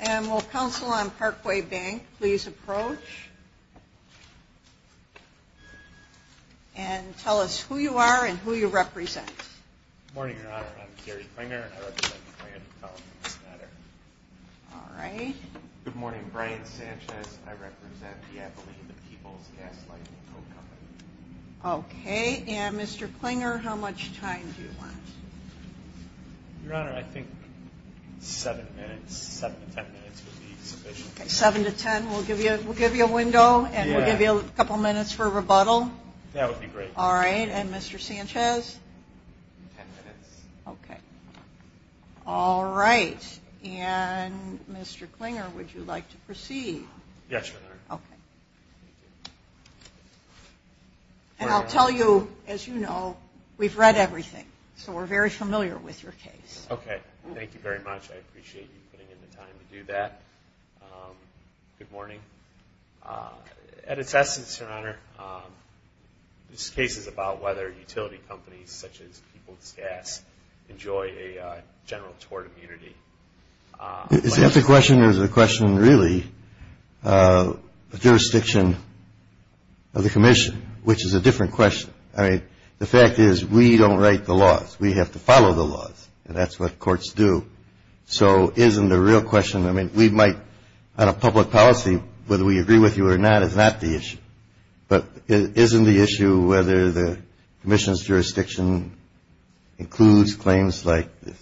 And will Council on Parkway Bank please approach and tell us who you are and who you represent. Good morning, Your Honor. I'm Gary Pringer and I represent the Planned Parenthood Foundation. Good morning, Brian Sanchez. I represent the Appalachian People's Gas Light and Coke Co. Okay, and Mr. Klinger, how much time do you want? Your Honor, I think seven minutes, seven to ten minutes would be sufficient. Okay, seven to ten. We'll give you a window and we'll give you a couple minutes for rebuttal. That would be great. All right, and Mr. Sanchez? Ten minutes. Ten minutes, okay. All right, and Mr. Klinger, would you like to proceed? Yes, Your Honor. Okay. And I'll tell you, as you know, we've read everything, so we're very familiar with your case. Okay, thank you very much. I appreciate you putting in the time to do that. Good morning. At its essence, Your Honor, this case is about whether utility companies, such as People's Gas, enjoy a general tort immunity. The question is a question, really, of jurisdiction of the commission, which is a different question. I mean, the fact is we don't write the laws. We have to follow the laws, and that's what courts do. So isn't the real question, I mean, we might, on a public policy, whether we agree with you or not is not the issue. But isn't the issue whether the commission's jurisdiction includes claims like this?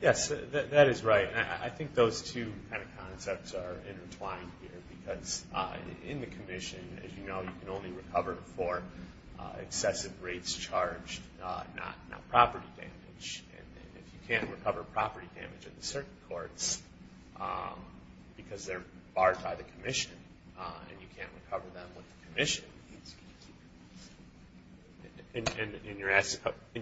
Yes, that is right. And I think those two kind of concepts are intertwined here because in the commission, as you know, you can only recover for excessive rates charged, not property damage. And if you can't recover property damage in certain courts because they're barred by the commission, and you can't recover them in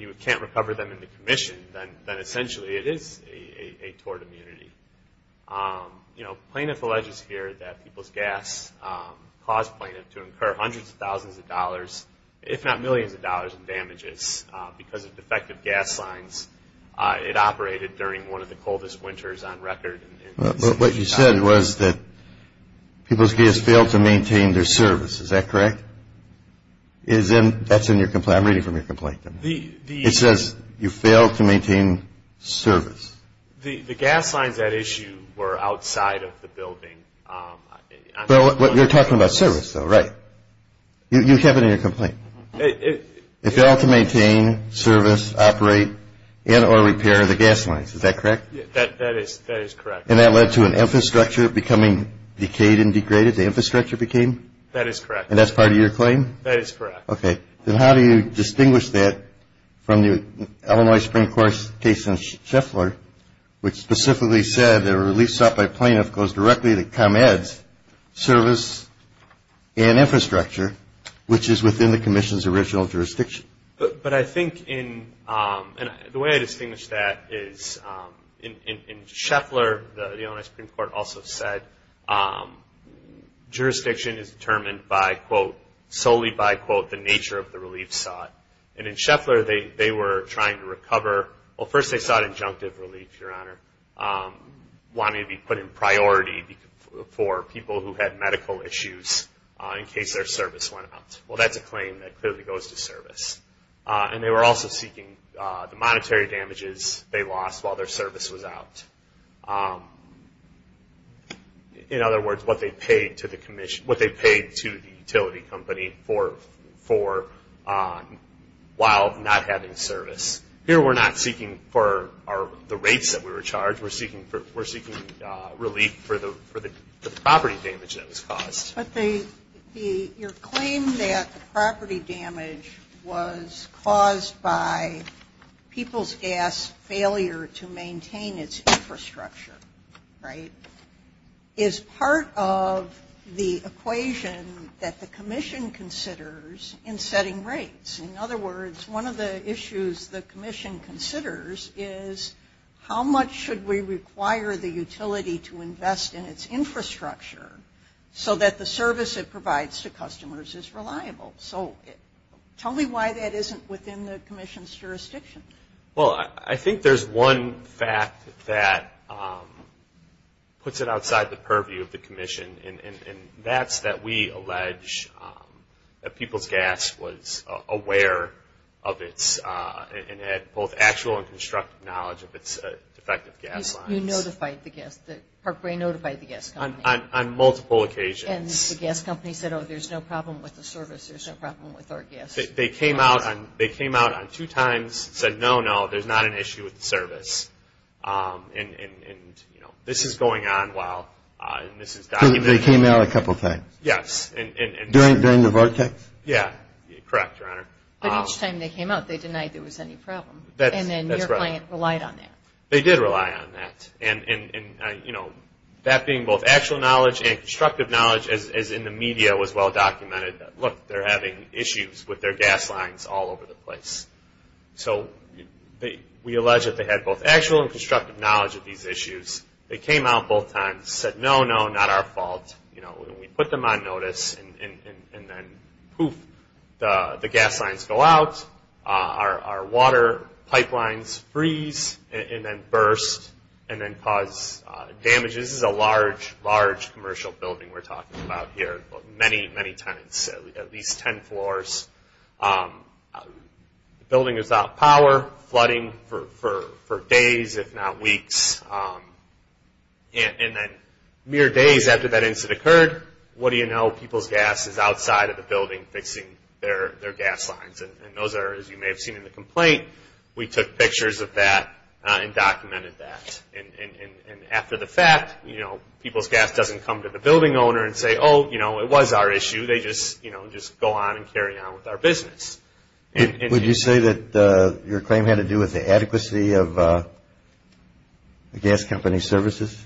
the commission, then essentially it is a tort immunity. Plaintiff alleges here that People's Gas caused plaintiff to incur hundreds of thousands of dollars, if not millions of dollars in damages because of defective gas lines. It operated during one of the coldest winters on record. But what you said was that People's Gas failed to maintain their service. Is that correct? That's in your complaint. I'm reading from your complaint. It says you failed to maintain service. The gas lines at issue were outside of the building. But you're talking about service, though, right? You have it in your complaint. It failed to maintain service, operate, and or repair the gas lines. Is that correct? That is correct. And that led to an infrastructure becoming decayed and degraded? The infrastructure became? That is correct. And that's part of your claim? That is correct. Okay. Then how do you distinguish that from the Illinois Supreme Court case in Scheffler, which specifically said that a relief sought by a plaintiff goes directly to ComEd's service and infrastructure, which is within the commission's original jurisdiction? But I think in – and the way I distinguish that is in Scheffler, the Illinois Supreme Court also said jurisdiction is determined by, quote, solely by, quote, the nature of the relief sought. And in Scheffler they were trying to recover – the relief, Your Honor – wanting to be put in priority for people who had medical issues in case their service went out. Well, that's a claim that clearly goes to service. And they were also seeking the monetary damages they lost while their service was out. In other words, what they paid to the commission – what they paid to the utility company for while not having service. Here we're not seeking for the rates that we were charged. We're seeking relief for the property damage that was caused. But they – your claim that property damage was caused by people's gas failure to maintain its infrastructure, right, is part of the equation that the commission considers in setting rates. In other words, one of the issues the commission considers is how much should we require the utility to invest in its infrastructure so that the service it provides to customers is reliable. So tell me why that isn't within the commission's jurisdiction. Well, I think there's one fact that puts it outside the purview of the commission, and that's that we allege that people's gas was aware of its – and had both actual and constructive knowledge of its defective gas lines. You notified the gas – Parkway notified the gas company. On multiple occasions. And the gas company said, oh, there's no problem with the service. There's no problem with our gas. They came out on two times and said, no, no, there's not an issue with the service. And, you know, this is going on while – So they came out a couple times? Yes. During the vortex? Yeah. Correct, Your Honor. But each time they came out, they denied there was any problem. That's right. And then your client relied on that. They did rely on that. And, you know, that being both actual knowledge and constructive knowledge, as in the media was well documented, look, they're having issues with their gas lines all over the place. So we allege that they had both actual and constructive knowledge of these issues. They came out both times, said, no, no, not our fault. And we put them on notice. And then, poof, the gas lines go out. Our water pipelines freeze and then burst and then cause damage. This is a large, large commercial building we're talking about here. Many, many times, at least ten floors. The building is out of power, flooding for days, if not weeks. And then mere days after that incident occurred, what do you know? People's gas is outside of the building fixing their gas lines. And those are, as you may have seen in the complaint, we took pictures of that and documented that. And after the fact, you know, it was our issue, they just, you know, just go on and carry on with our business. Would you say that your claim had to do with the adequacy of the gas company's services?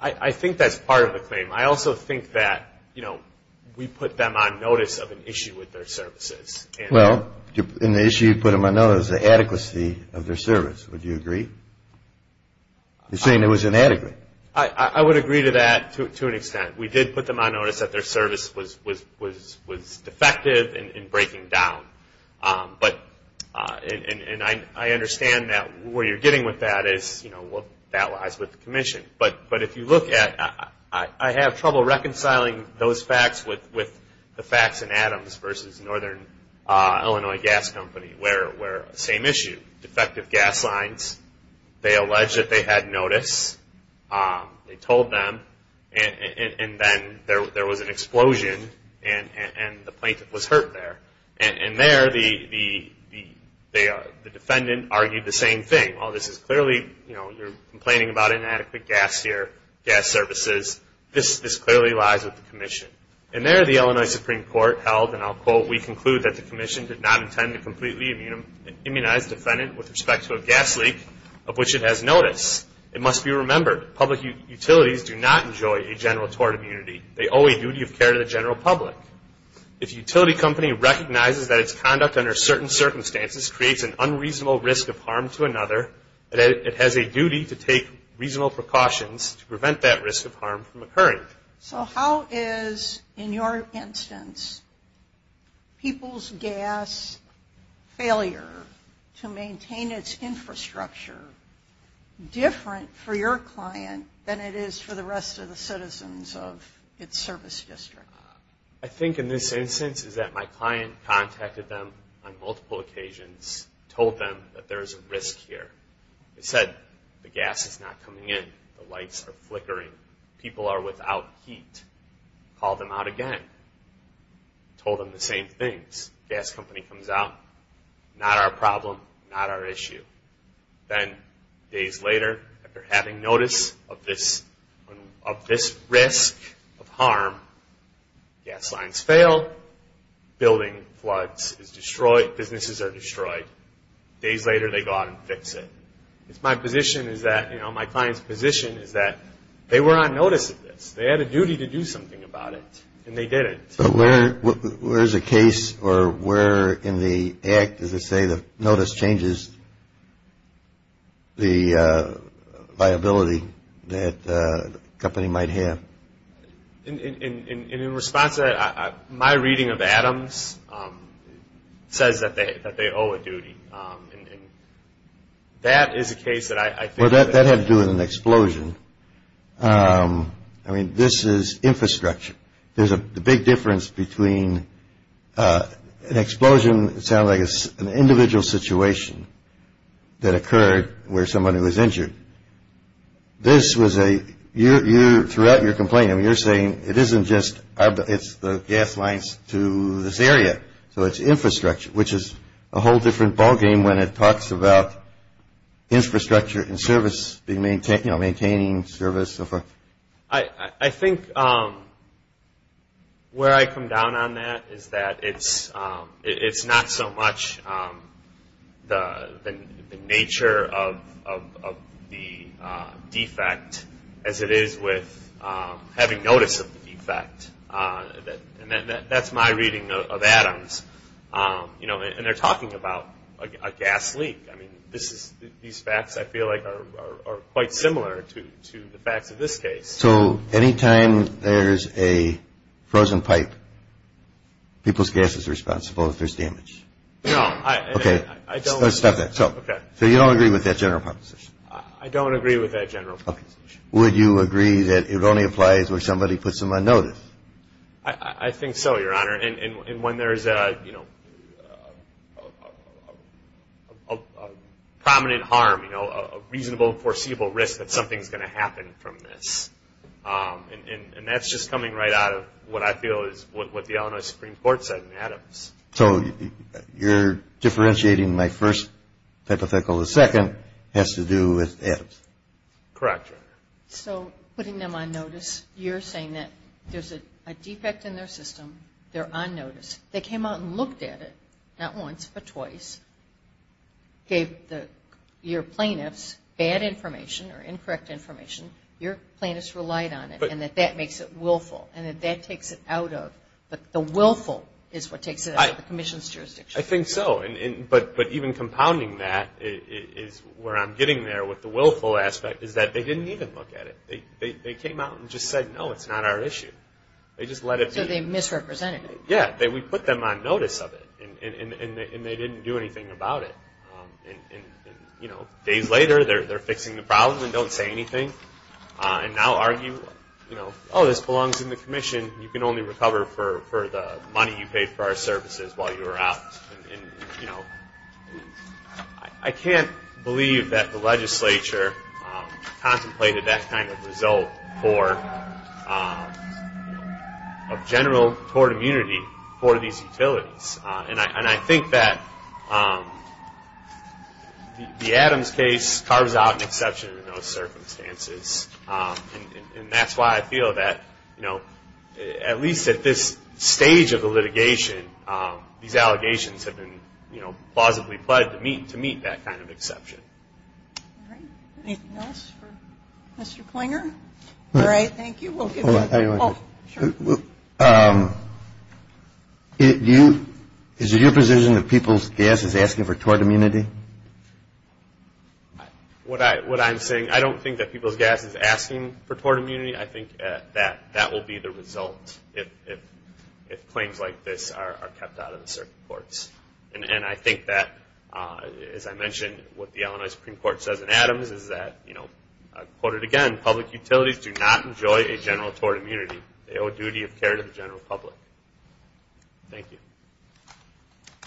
I think that's part of the claim. I also think that, you know, we put them on notice of an issue with their services. Well, and the issue you put them on notice of is the adequacy of their service. Would you agree? You're saying it was inadequate. I would agree to that to an extent. We did put them on notice that their service was defective and breaking down. But, and I understand that where you're getting with that is, you know, that lies with the commission. But if you look at, I have trouble reconciling those facts with the facts in Adams versus Northern Illinois Gas Company where, same issue, defective gas lines. They allege that they had notice. They told them. And then there was an explosion and the plaintiff was hurt there. And there the defendant argued the same thing. While this is clearly, you know, you're complaining about inadequate gas here, gas services, this clearly lies with the commission. And there the Illinois Supreme Court held, and I'll quote, we conclude that the commission did not intend to completely immunize the defendant with respect to a gas leak of which it has notice. It must be remembered, public utilities do not enjoy a general tort immunity. They owe a duty of care to the general public. If a utility company recognizes that its conduct under certain circumstances creates an unreasonable risk of harm to another, it has a duty to take reasonable precautions to prevent that risk of harm from occurring. So how is, in your instance, people's gas failure to maintain its infrastructure different for your client than it is for the rest of the citizens of its service district? I think in this instance is that my client contacted them on multiple occasions, told them that there is a risk here. They said the gas is not coming in. The lights are flickering. People are without heat. Called them out again. Told them the same things. Gas company comes out. Not our problem. Not our issue. Then days later, after having notice of this risk of harm, gas lines fail. Building floods is destroyed. Businesses are destroyed. Days later they go out and fix it. My client's position is that they were on notice of this. They had a duty to do something about it, and they didn't. Where is the case or where in the act does it say the notice changes the viability that the company might have? In response to that, my reading of Adams says that they owe a duty. That is a case that I think. Well, that had to do with an explosion. I mean, this is infrastructure. There's a big difference between an explosion, it sounds like it's an individual situation that occurred where somebody was injured. This was a, throughout your complaint, you're saying it isn't just, it's the gas lines to this area, so it's infrastructure, which is a whole different ballgame when it talks about infrastructure and service, maintaining service and so forth. I think where I come down on that is that it's not so much the nature of the defect as it is with having notice of the defect. And that's my reading of Adams. And they're talking about a gas leak. I mean, these facts, I feel like, are quite similar to the facts of this case. So any time there's a frozen pipe, people's gas is responsible if there's damage? No. Okay. Stop that. So you don't agree with that general proposition? I don't agree with that general proposition. Would you agree that it only applies where somebody puts them on notice? I think so, Your Honor. And when there's a prominent harm, a reasonable, foreseeable risk that something's going to happen from this. And that's just coming right out of what I feel is what the Illinois Supreme Court said in Adams. So you're differentiating my first hypothetical. The second has to do with Adams. Correct, Your Honor. So putting them on notice, you're saying that there's a defect in their system, they're on notice. They came out and looked at it, not once but twice, gave your plaintiffs bad information or incorrect information. Your plaintiffs relied on it and that that makes it willful and that that takes it out of the willful is what takes it out of the commission's jurisdiction. I think so. But even compounding that is where I'm getting there with the willful aspect is that they didn't even look at it. They came out and just said, no, it's not our issue. They just let it be. So they misrepresented it. Yeah. We put them on notice of it and they didn't do anything about it. Days later they're fixing the problem and don't say anything and now argue, oh, this belongs in the commission. You can only recover for the money you paid for our services while you were out. I can't believe that the legislature contemplated that kind of result for a general tort immunity for these utilities. And I think that the Adams case carves out an exception in those circumstances and that's why I feel that at least at this stage of the litigation, these allegations have been plausibly pled to meet that kind of exception. All right. Anything else for Mr. Klinger? All right. Thank you. Is it your position that People's Gas is asking for tort immunity? What I'm saying, I don't think that People's Gas is asking for tort immunity. I think that that will be the result if claims like this are kept out of the circuit courts. And I think that, as I mentioned, what the Illinois Supreme Court says in Adams is that, I'll quote it again, public utilities do not enjoy a general tort immunity. They owe duty of care to the general public. Thank you.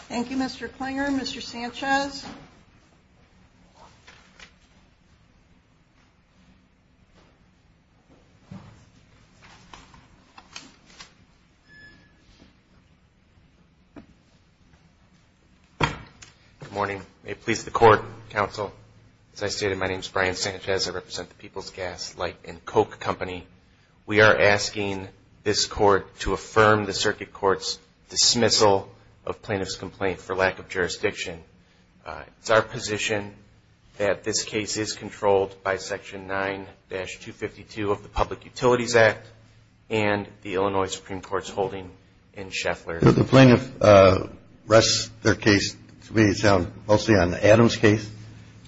Thank you, Mr. Klinger. Mr. Sanchez? Good morning. May it please the Court, Counsel. As I stated, my name is Brian Sanchez. I represent the People's Gas Light and Coke Company. We are asking this Court to affirm the circuit court's dismissal of plaintiff's complaint for lack of jurisdiction. It's our position that this case is controlled by Section 9-252 of the Public Utilities Act and the Illinois Supreme Court's holding in Sheffler. The plaintiff rests their case, to me it sounds, mostly on the Adams case.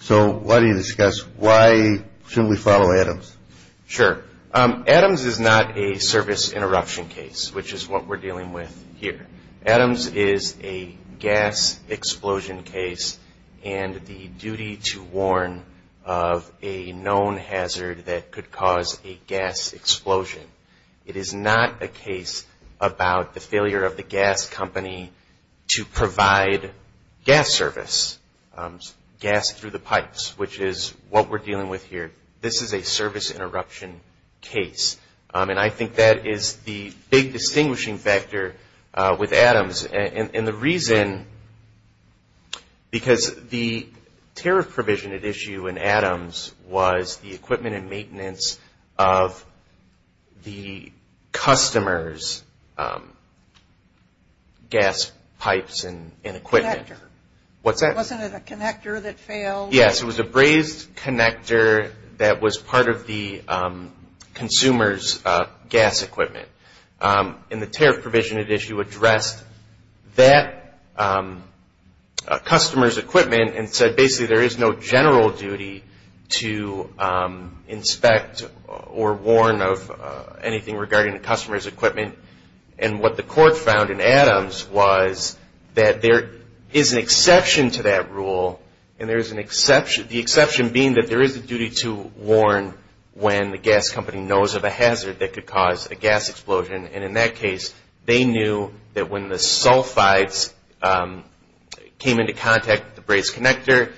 So why do you discuss, why shouldn't we follow Adams? Sure. Adams is not a service interruption case, which is what we're dealing with here. Adams is a gas explosion case and the duty to warn of a known hazard that could cause a gas explosion. It is not a case about the failure of the gas company to provide gas service, gas through the pipes, which is what we're dealing with here. This is a service interruption case. And I think that is the big distinguishing factor with Adams. And the reason, because the tariff provision at issue in Adams was the equipment and maintenance of the customer's gas pipes and equipment. Connector. What's that? Wasn't it a connector that failed? Yes, it was a brazed connector that was part of the consumer's gas equipment. And the tariff provision at issue addressed that customer's equipment and said basically there is no general duty to inspect or warn of anything regarding the customer's equipment. And what the court found in Adams was that there is an exception to that rule and the exception being that there is a duty to warn when the gas company knows of a hazard that could cause a gas explosion. And in that case, they knew that when the sulfides came into contact with the brazed connector,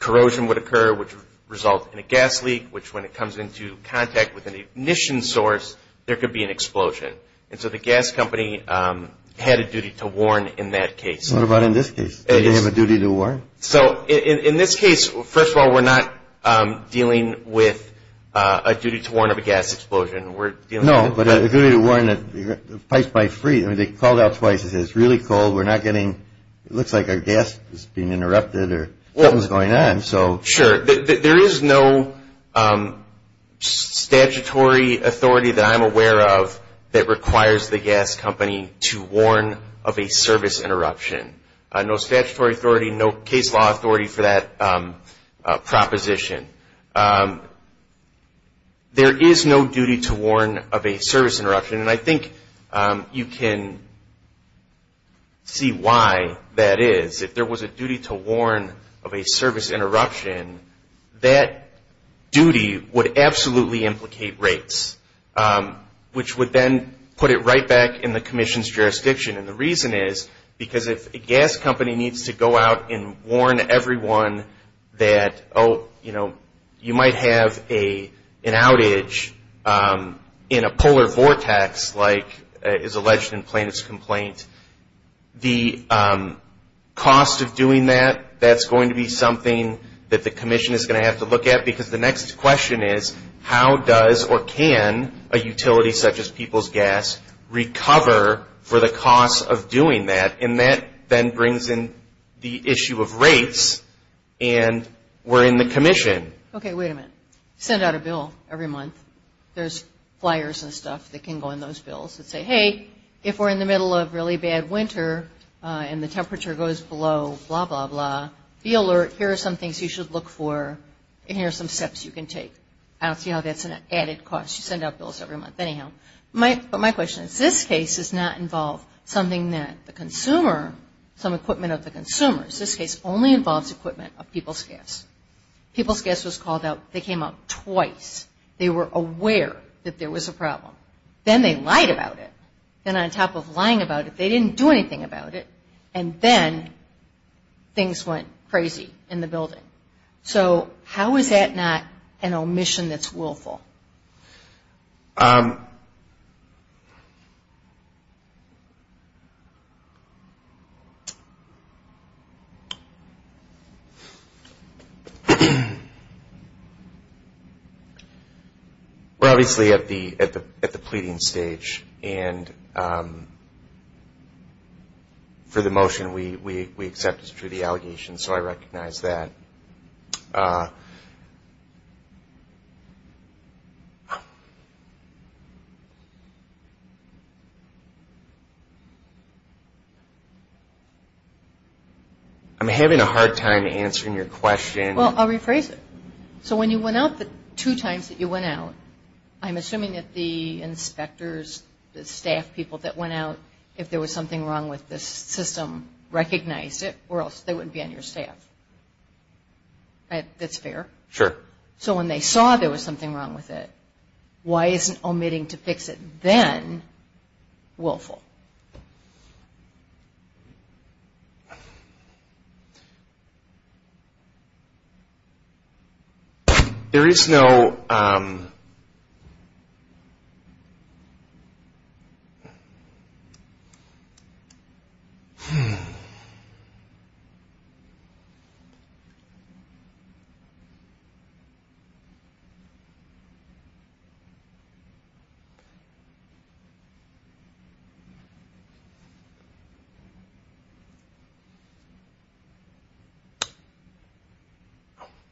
corrosion would occur, which would result in a gas leak, which when it comes into contact with an ignition source, there could be an explosion. And so the gas company had a duty to warn in that case. What about in this case? Did they have a duty to warn? So in this case, first of all, we're not dealing with a duty to warn of a gas explosion. No, but a duty to warn that the pipes might freeze. I mean, they called out twice and said it's really cold. It looks like our gas is being interrupted or something is going on. Sure. There is no statutory authority that I'm aware of that requires the gas company to warn of a service interruption. No statutory authority, no case law authority for that proposition. There is no duty to warn of a service interruption, and I think you can see why that is. If there was a duty to warn of a service interruption, that duty would absolutely implicate rates, which would then put it right back in the commission's jurisdiction. And the reason is because if a gas company needs to go out and warn everyone that, oh, you know, you might have an outage in a polar vortex like is alleged in Plano's complaint, the cost of doing that, that's going to be something that the commission is going to have to look at because the next question is, how does or can a utility such as People's Gas recover for the cost of doing that? And that then brings in the issue of rates, and we're in the commission. Okay, wait a minute. Send out a bill every month. There's flyers and stuff that can go in those bills that say, hey, if we're in the middle of really bad winter and the temperature goes below blah, blah, blah, be alert. Here are some things you should look for, and here are some steps you can take. I don't see how that's an added cost. You send out bills every month. Anyhow, my question is, this case does not involve something that the consumer, some equipment of the consumers. This case only involves equipment of People's Gas. People's Gas was called out. They came out twice. They were aware that there was a problem. Then they lied about it, and on top of lying about it, they didn't do anything about it, and then things went crazy in the building. So how is that not an omission that's willful? We're obviously at the pleading stage, and for the motion, we accept it's true, the allegation, so I recognize that. I'm having a hard time answering your question. Well, I'll rephrase it. So when you went out the two times that you went out, I'm assuming that the inspectors, the staff people that went out, if there was something wrong with the system, recognized it, or else they wouldn't be on your staff. That's fair? Sure. So when they saw there was something wrong with it, why isn't omitting to fix it then willful? There is no...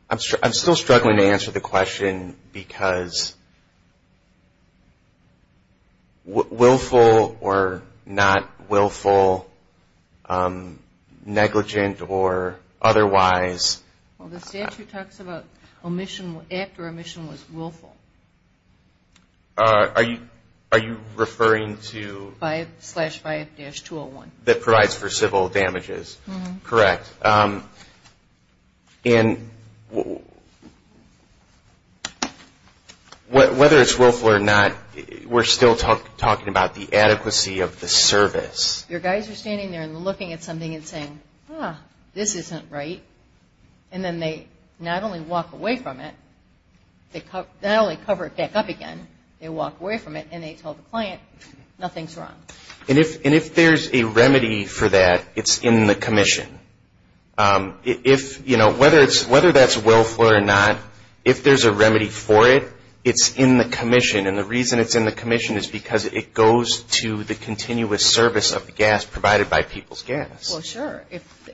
I'm still struggling to answer the question because willful or not willful, negligent or otherwise... Well, the statute talks about omission after omission was willful. Are you referring to... That provides for civil damages. Correct. And whether it's willful or not, we're still talking about the adequacy of the service. Your guys are standing there and looking at something and saying, ah, this isn't right, and then they not only walk away from it, they not only cover it back up again, they walk away from it, and they tell the client nothing's wrong. And if there's a remedy for that, it's in the commission. Whether that's willful or not, if there's a remedy for it, it's in the commission. And the reason it's in the commission is because it goes to the continuous service of the gas provided by People's Gas. Well, sure,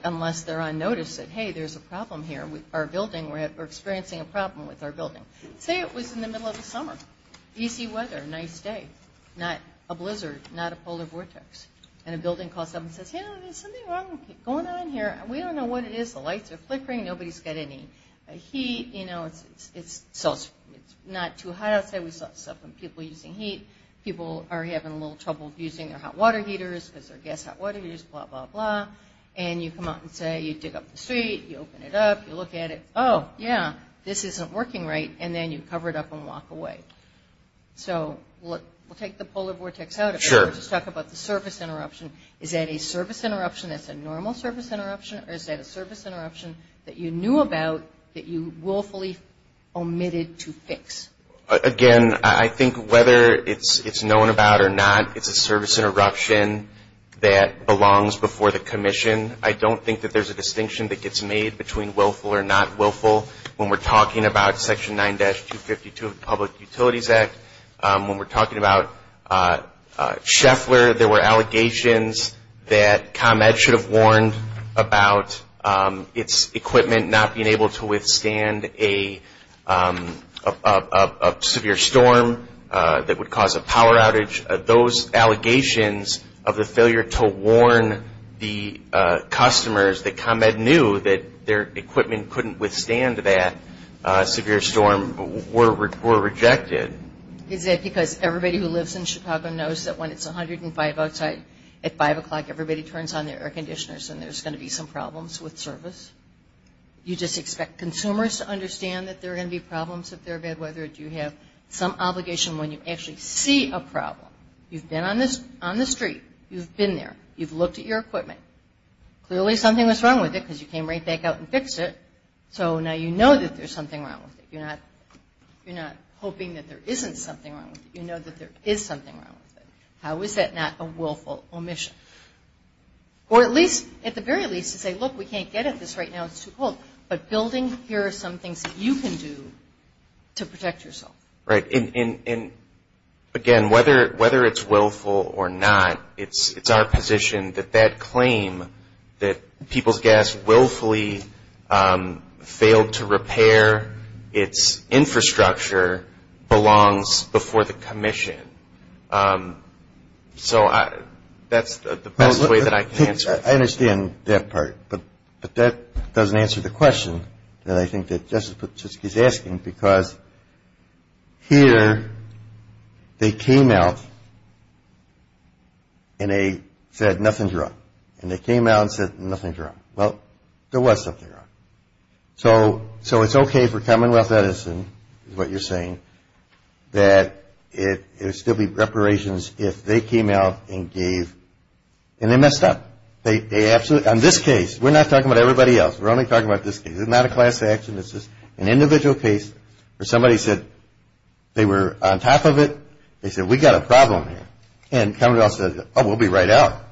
unless they're on notice that, hey, there's a problem here. We're experiencing a problem with our building. Say it was in the middle of the summer. Easy weather, nice day. Not a blizzard, not a polar vortex. And a building calls up and says, hey, there's something wrong going on here. We don't know what it is. The lights are flickering. Nobody's got any heat. You know, it's not too hot outside. We saw some people using heat. People are having a little trouble using their hot water heaters because their gas hot water heaters, blah, blah, blah. And you come out and say, you dig up the street, you open it up, you look at it. Oh, yeah, this isn't working right. And then you cover it up and walk away. So we'll take the polar vortex out of it. Sure. We'll just talk about the service interruption. Is that a service interruption that's a normal service interruption, or is that a service interruption that you knew about that you willfully omitted to fix? Again, I think whether it's known about or not, it's a service interruption that belongs before the commission. I don't think that there's a distinction that gets made between willful or not willful when we're talking about Section 9-252 of the Public Utilities Act. When we're talking about Scheffler, there were allegations that ComEd should have warned about its equipment not being able to withstand a severe storm that would cause a power outage. Those allegations of the failure to warn the customers that ComEd knew that their equipment couldn't withstand that severe storm were rejected. Is that because everybody who lives in Chicago knows that when it's 105 outside at 5 o'clock, everybody turns on their air conditioners and there's going to be some problems with service? You just expect consumers to understand that there are going to be problems if there are bad weather? Do you have some obligation when you actually see a problem? You've been on the street. You've been there. You've looked at your equipment. Clearly something was wrong with it because you came right back out and fixed it, so now you know that there's something wrong with it. You're not hoping that there isn't something wrong with it. You know that there is something wrong with it. How is that not a willful omission? Or at least, at the very least, to say, look, we can't get at this right now. It's too cold. But building, here are some things that you can do to protect yourself. Right. And, again, whether it's willful or not, it's our position that that claim, that People's Gas willfully failed to repair its infrastructure, belongs before the commission. So that's the best way that I can answer it. I understand that part, but that doesn't answer the question that I think that Jessica is asking because here they came out and they said nothing's wrong. And they came out and said nothing's wrong. Well, there was something wrong. So it's okay for Commonwealth Edison, is what you're saying, that there would still be reparations if they came out and gave, and they messed up. On this case, we're not talking about everybody else. We're only talking about this case. It's not a class action. It's just an individual case where somebody said they were on top of it. They said, we've got a problem here. And Commonwealth says, oh, we'll be right out.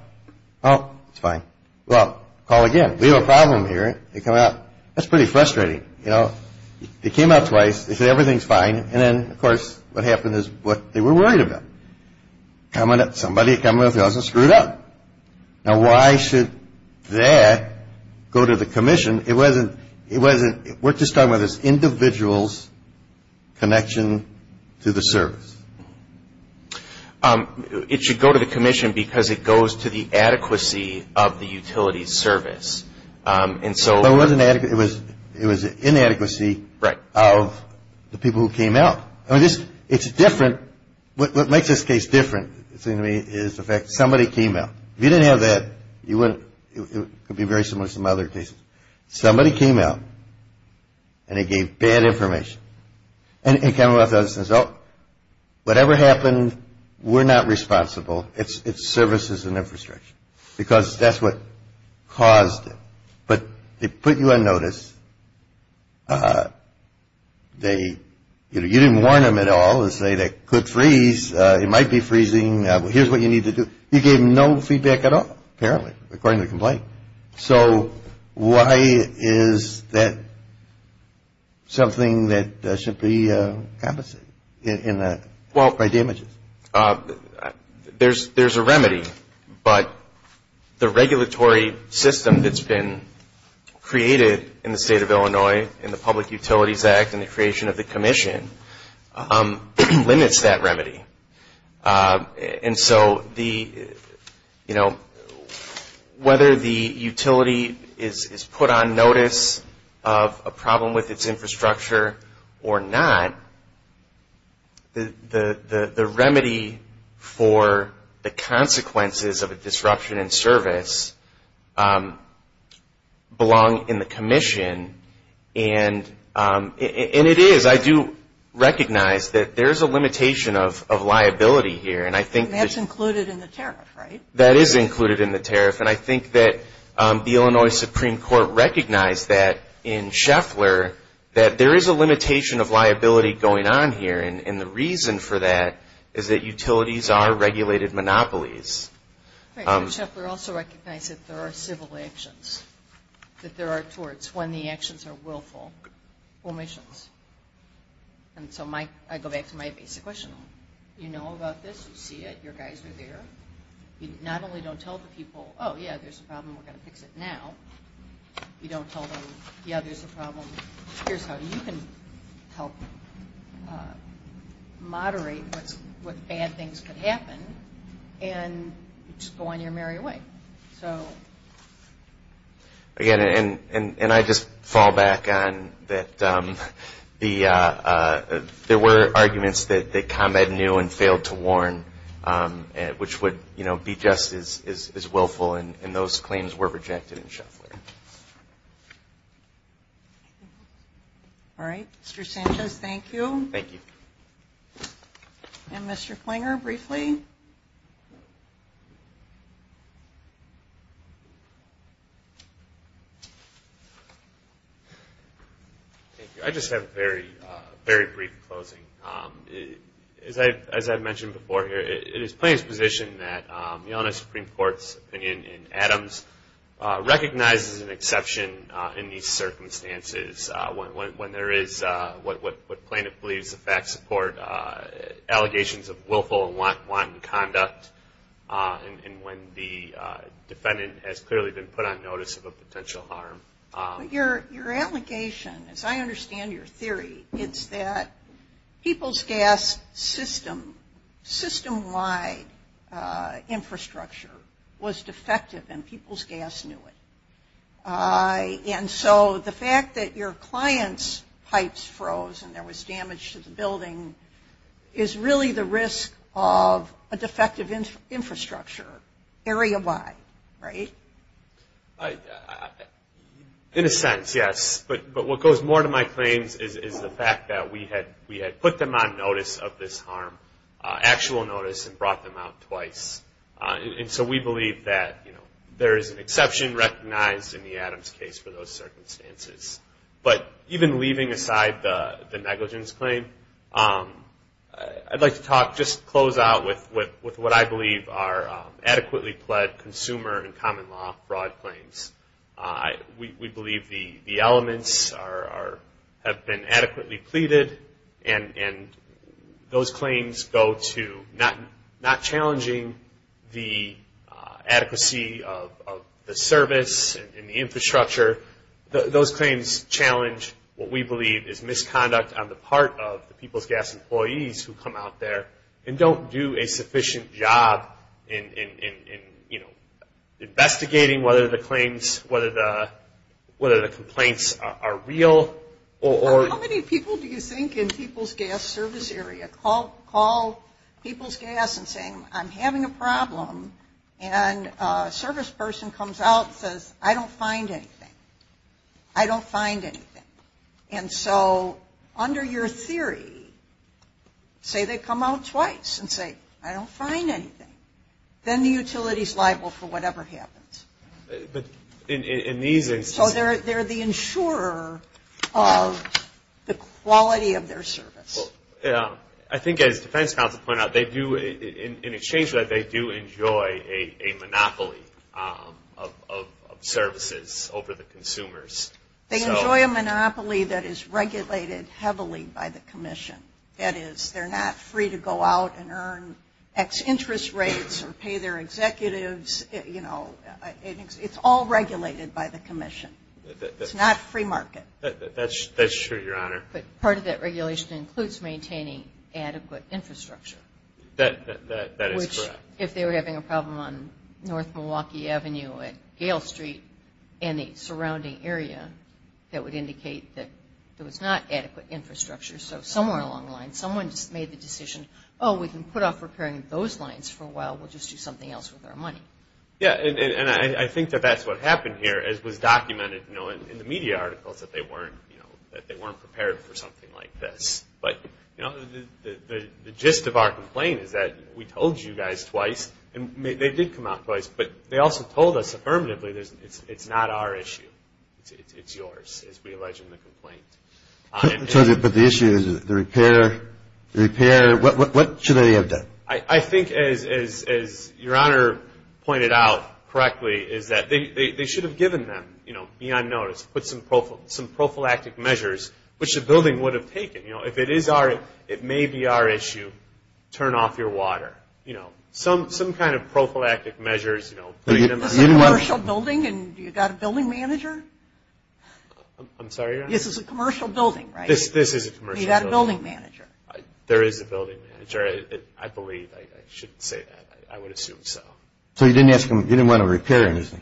Oh, it's fine. Well, call again. We have a problem here. They come out. That's pretty frustrating. You know, they came out twice. They said everything's fine. And then, of course, what happened is what they were worried about, somebody at Commonwealth Edison screwed up. Now, why should that go to the commission? We're just talking about this individual's connection to the service. It should go to the commission because it goes to the adequacy of the utilities service. But it was inadequacy of the people who came out. I mean, it's different. What makes this case different is the fact somebody came out. If you didn't have that, it would be very similar to some other cases. Somebody came out, and they gave bad information. And Commonwealth Edison says, oh, whatever happened, we're not responsible. It's services and infrastructure because that's what caused it. But they put you on notice. You didn't warn them at all and say they could freeze. It might be freezing. Here's what you need to do. You gave no feedback at all, apparently, according to the complaint. So why is that something that should be compensated by damages? There's a remedy, but the regulatory system that's been created in the state of Illinois in the Public Utilities Act and the creation of the commission limits that remedy. And so, you know, whether the utility is put on notice of a problem with its infrastructure or not, the remedy for the consequences of a disruption in service belong in the commission. And it is. I do recognize that there's a limitation of liability here. And I think that's included in the tariff, right? That is included in the tariff. And I think that the Illinois Supreme Court recognized that in Scheffler, that there is a limitation of liability going on here. And the reason for that is that utilities are regulated monopolies. Right. So, Scheffler also recognized that there are civil actions, that there are torts when the actions are willful omissions. And so I go back to my basic question. You know about this. You see it. Your guys are there. You not only don't tell the people, oh, yeah, there's a problem. We're going to fix it now. You don't tell them, yeah, there's a problem. Here's how you can help moderate what bad things could happen and just go on your merry way. So. Again, and I just fall back on that there were arguments that combat knew and failed to warn, which would be just as willful. And those claims were rejected in Scheffler. All right. Mr. Sanchez, thank you. Thank you. And Mr. Klinger, briefly. Thank you. I just have a very, very brief closing. As I've mentioned before here, it is Plaintiff's position that the onus of Supreme Court's opinion in Adams recognizes an exception in these circumstances. When there is what Plaintiff believes the facts support allegations of willful and wanton conduct and when the defendant has clearly been put on notice of a potential harm. Your allegation, as I understand your theory, it's that people's gas system-wide infrastructure was defective and people's gas knew it. And so the fact that your client's pipes froze and there was damage to the building is really the risk of a defective infrastructure area-wide, right? In a sense, yes. But what goes more to my claims is the fact that we had put them on notice of this harm, actual notice, and brought them out twice. And so we believe that there is an exception recognized in the Adams case for those circumstances. But even leaving aside the negligence claim, I'd like to just close out with what I believe are adequately pled consumer and common law fraud claims. We believe the elements have been adequately pleaded and those claims go to not challenging the adequacy of the service and the infrastructure. Those claims challenge what we believe is misconduct on the part of the people's gas employees who come out there and don't do a sufficient job in investigating whether the complaints are real. How many people do you think in people's gas service area call people's gas and say, I'm having a problem and a service person comes out and says, I don't find anything. I don't find anything. And so under your theory, say they come out twice and say, I don't find anything. Then the utility is liable for whatever happens. So they're the insurer of the quality of their service. I think as defense counsel pointed out, they do, in exchange for that, they do enjoy a monopoly of services over the consumers. They enjoy a monopoly that is regulated heavily by the commission. That is, they're not free to go out and earn X interest rates or pay their executives, you know, it's all regulated by the commission. It's not free market. That's true, Your Honor. But part of that regulation includes maintaining adequate infrastructure. That is correct. Which if they were having a problem on North Milwaukee Avenue at Gale Street and the surrounding area, that would indicate that there was not adequate infrastructure. So somewhere along the line, someone just made the decision, oh, we can put off repairing those lines for a while. We'll just do something else with our money. Yeah, and I think that that's what happened here, as was documented, you know, in the media articles that they weren't prepared for something like this. But, you know, the gist of our complaint is that we told you guys twice, and they did come out twice, but they also told us affirmatively, it's not our issue. It's yours, as we allege in the complaint. But the issue is the repair. What should they have done? I think, as Your Honor pointed out correctly, is that they should have given them, you know, beyond notice, put some prophylactic measures, which the building would have taken. You know, if it is our issue, it may be our issue, turn off your water. You know, some kind of prophylactic measures, you know. This is a commercial building, and you've got a building manager? I'm sorry, Your Honor? This is a commercial building, right? This is a commercial building. You've got a building manager. There is a building manager. I believe. I shouldn't say that. I would assume so. So you didn't want to repair anything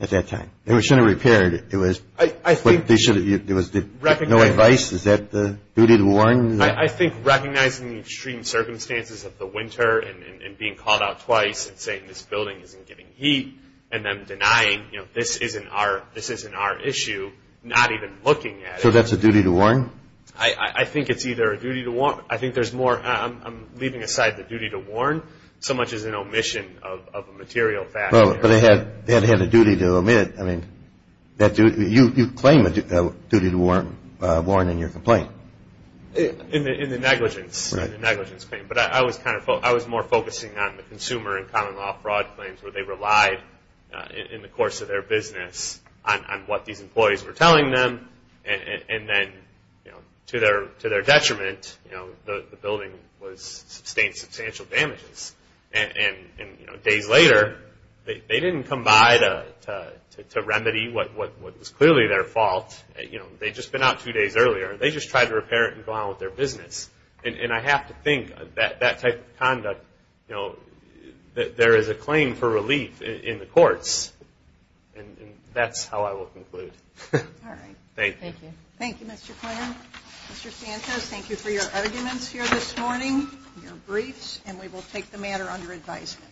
at that time? They should have repaired it. It was no advice? Is that the duty to warn? I think recognizing the extreme circumstances of the winter and being called out twice and saying this building isn't getting heat and then denying, you know, this isn't our issue, not even looking at it. So that's a duty to warn? I think it's either a duty to warn. I think there's more. I'm leaving aside the duty to warn so much as an omission of a material factor. But they had a duty to omit. I mean, you claim a duty to warn in your complaint. In the negligence. Right. In the negligence claim. I was more focusing on the consumer and common law fraud claims where they relied in the course of their business on what these employees were telling them. And then to their detriment, the building sustained substantial damages. Days later, they didn't come by to remedy what was clearly their fault. They'd just been out two days earlier. They just tried to repair it and go on with their business. And I have to think that that type of conduct, you know, there is a claim for relief in the courts. And that's how I will conclude. All right. Thank you. Thank you. Thank you, Mr. Clarence. Mr. Santos, thank you for your arguments here this morning, your briefs, and we will take the matter under advisement.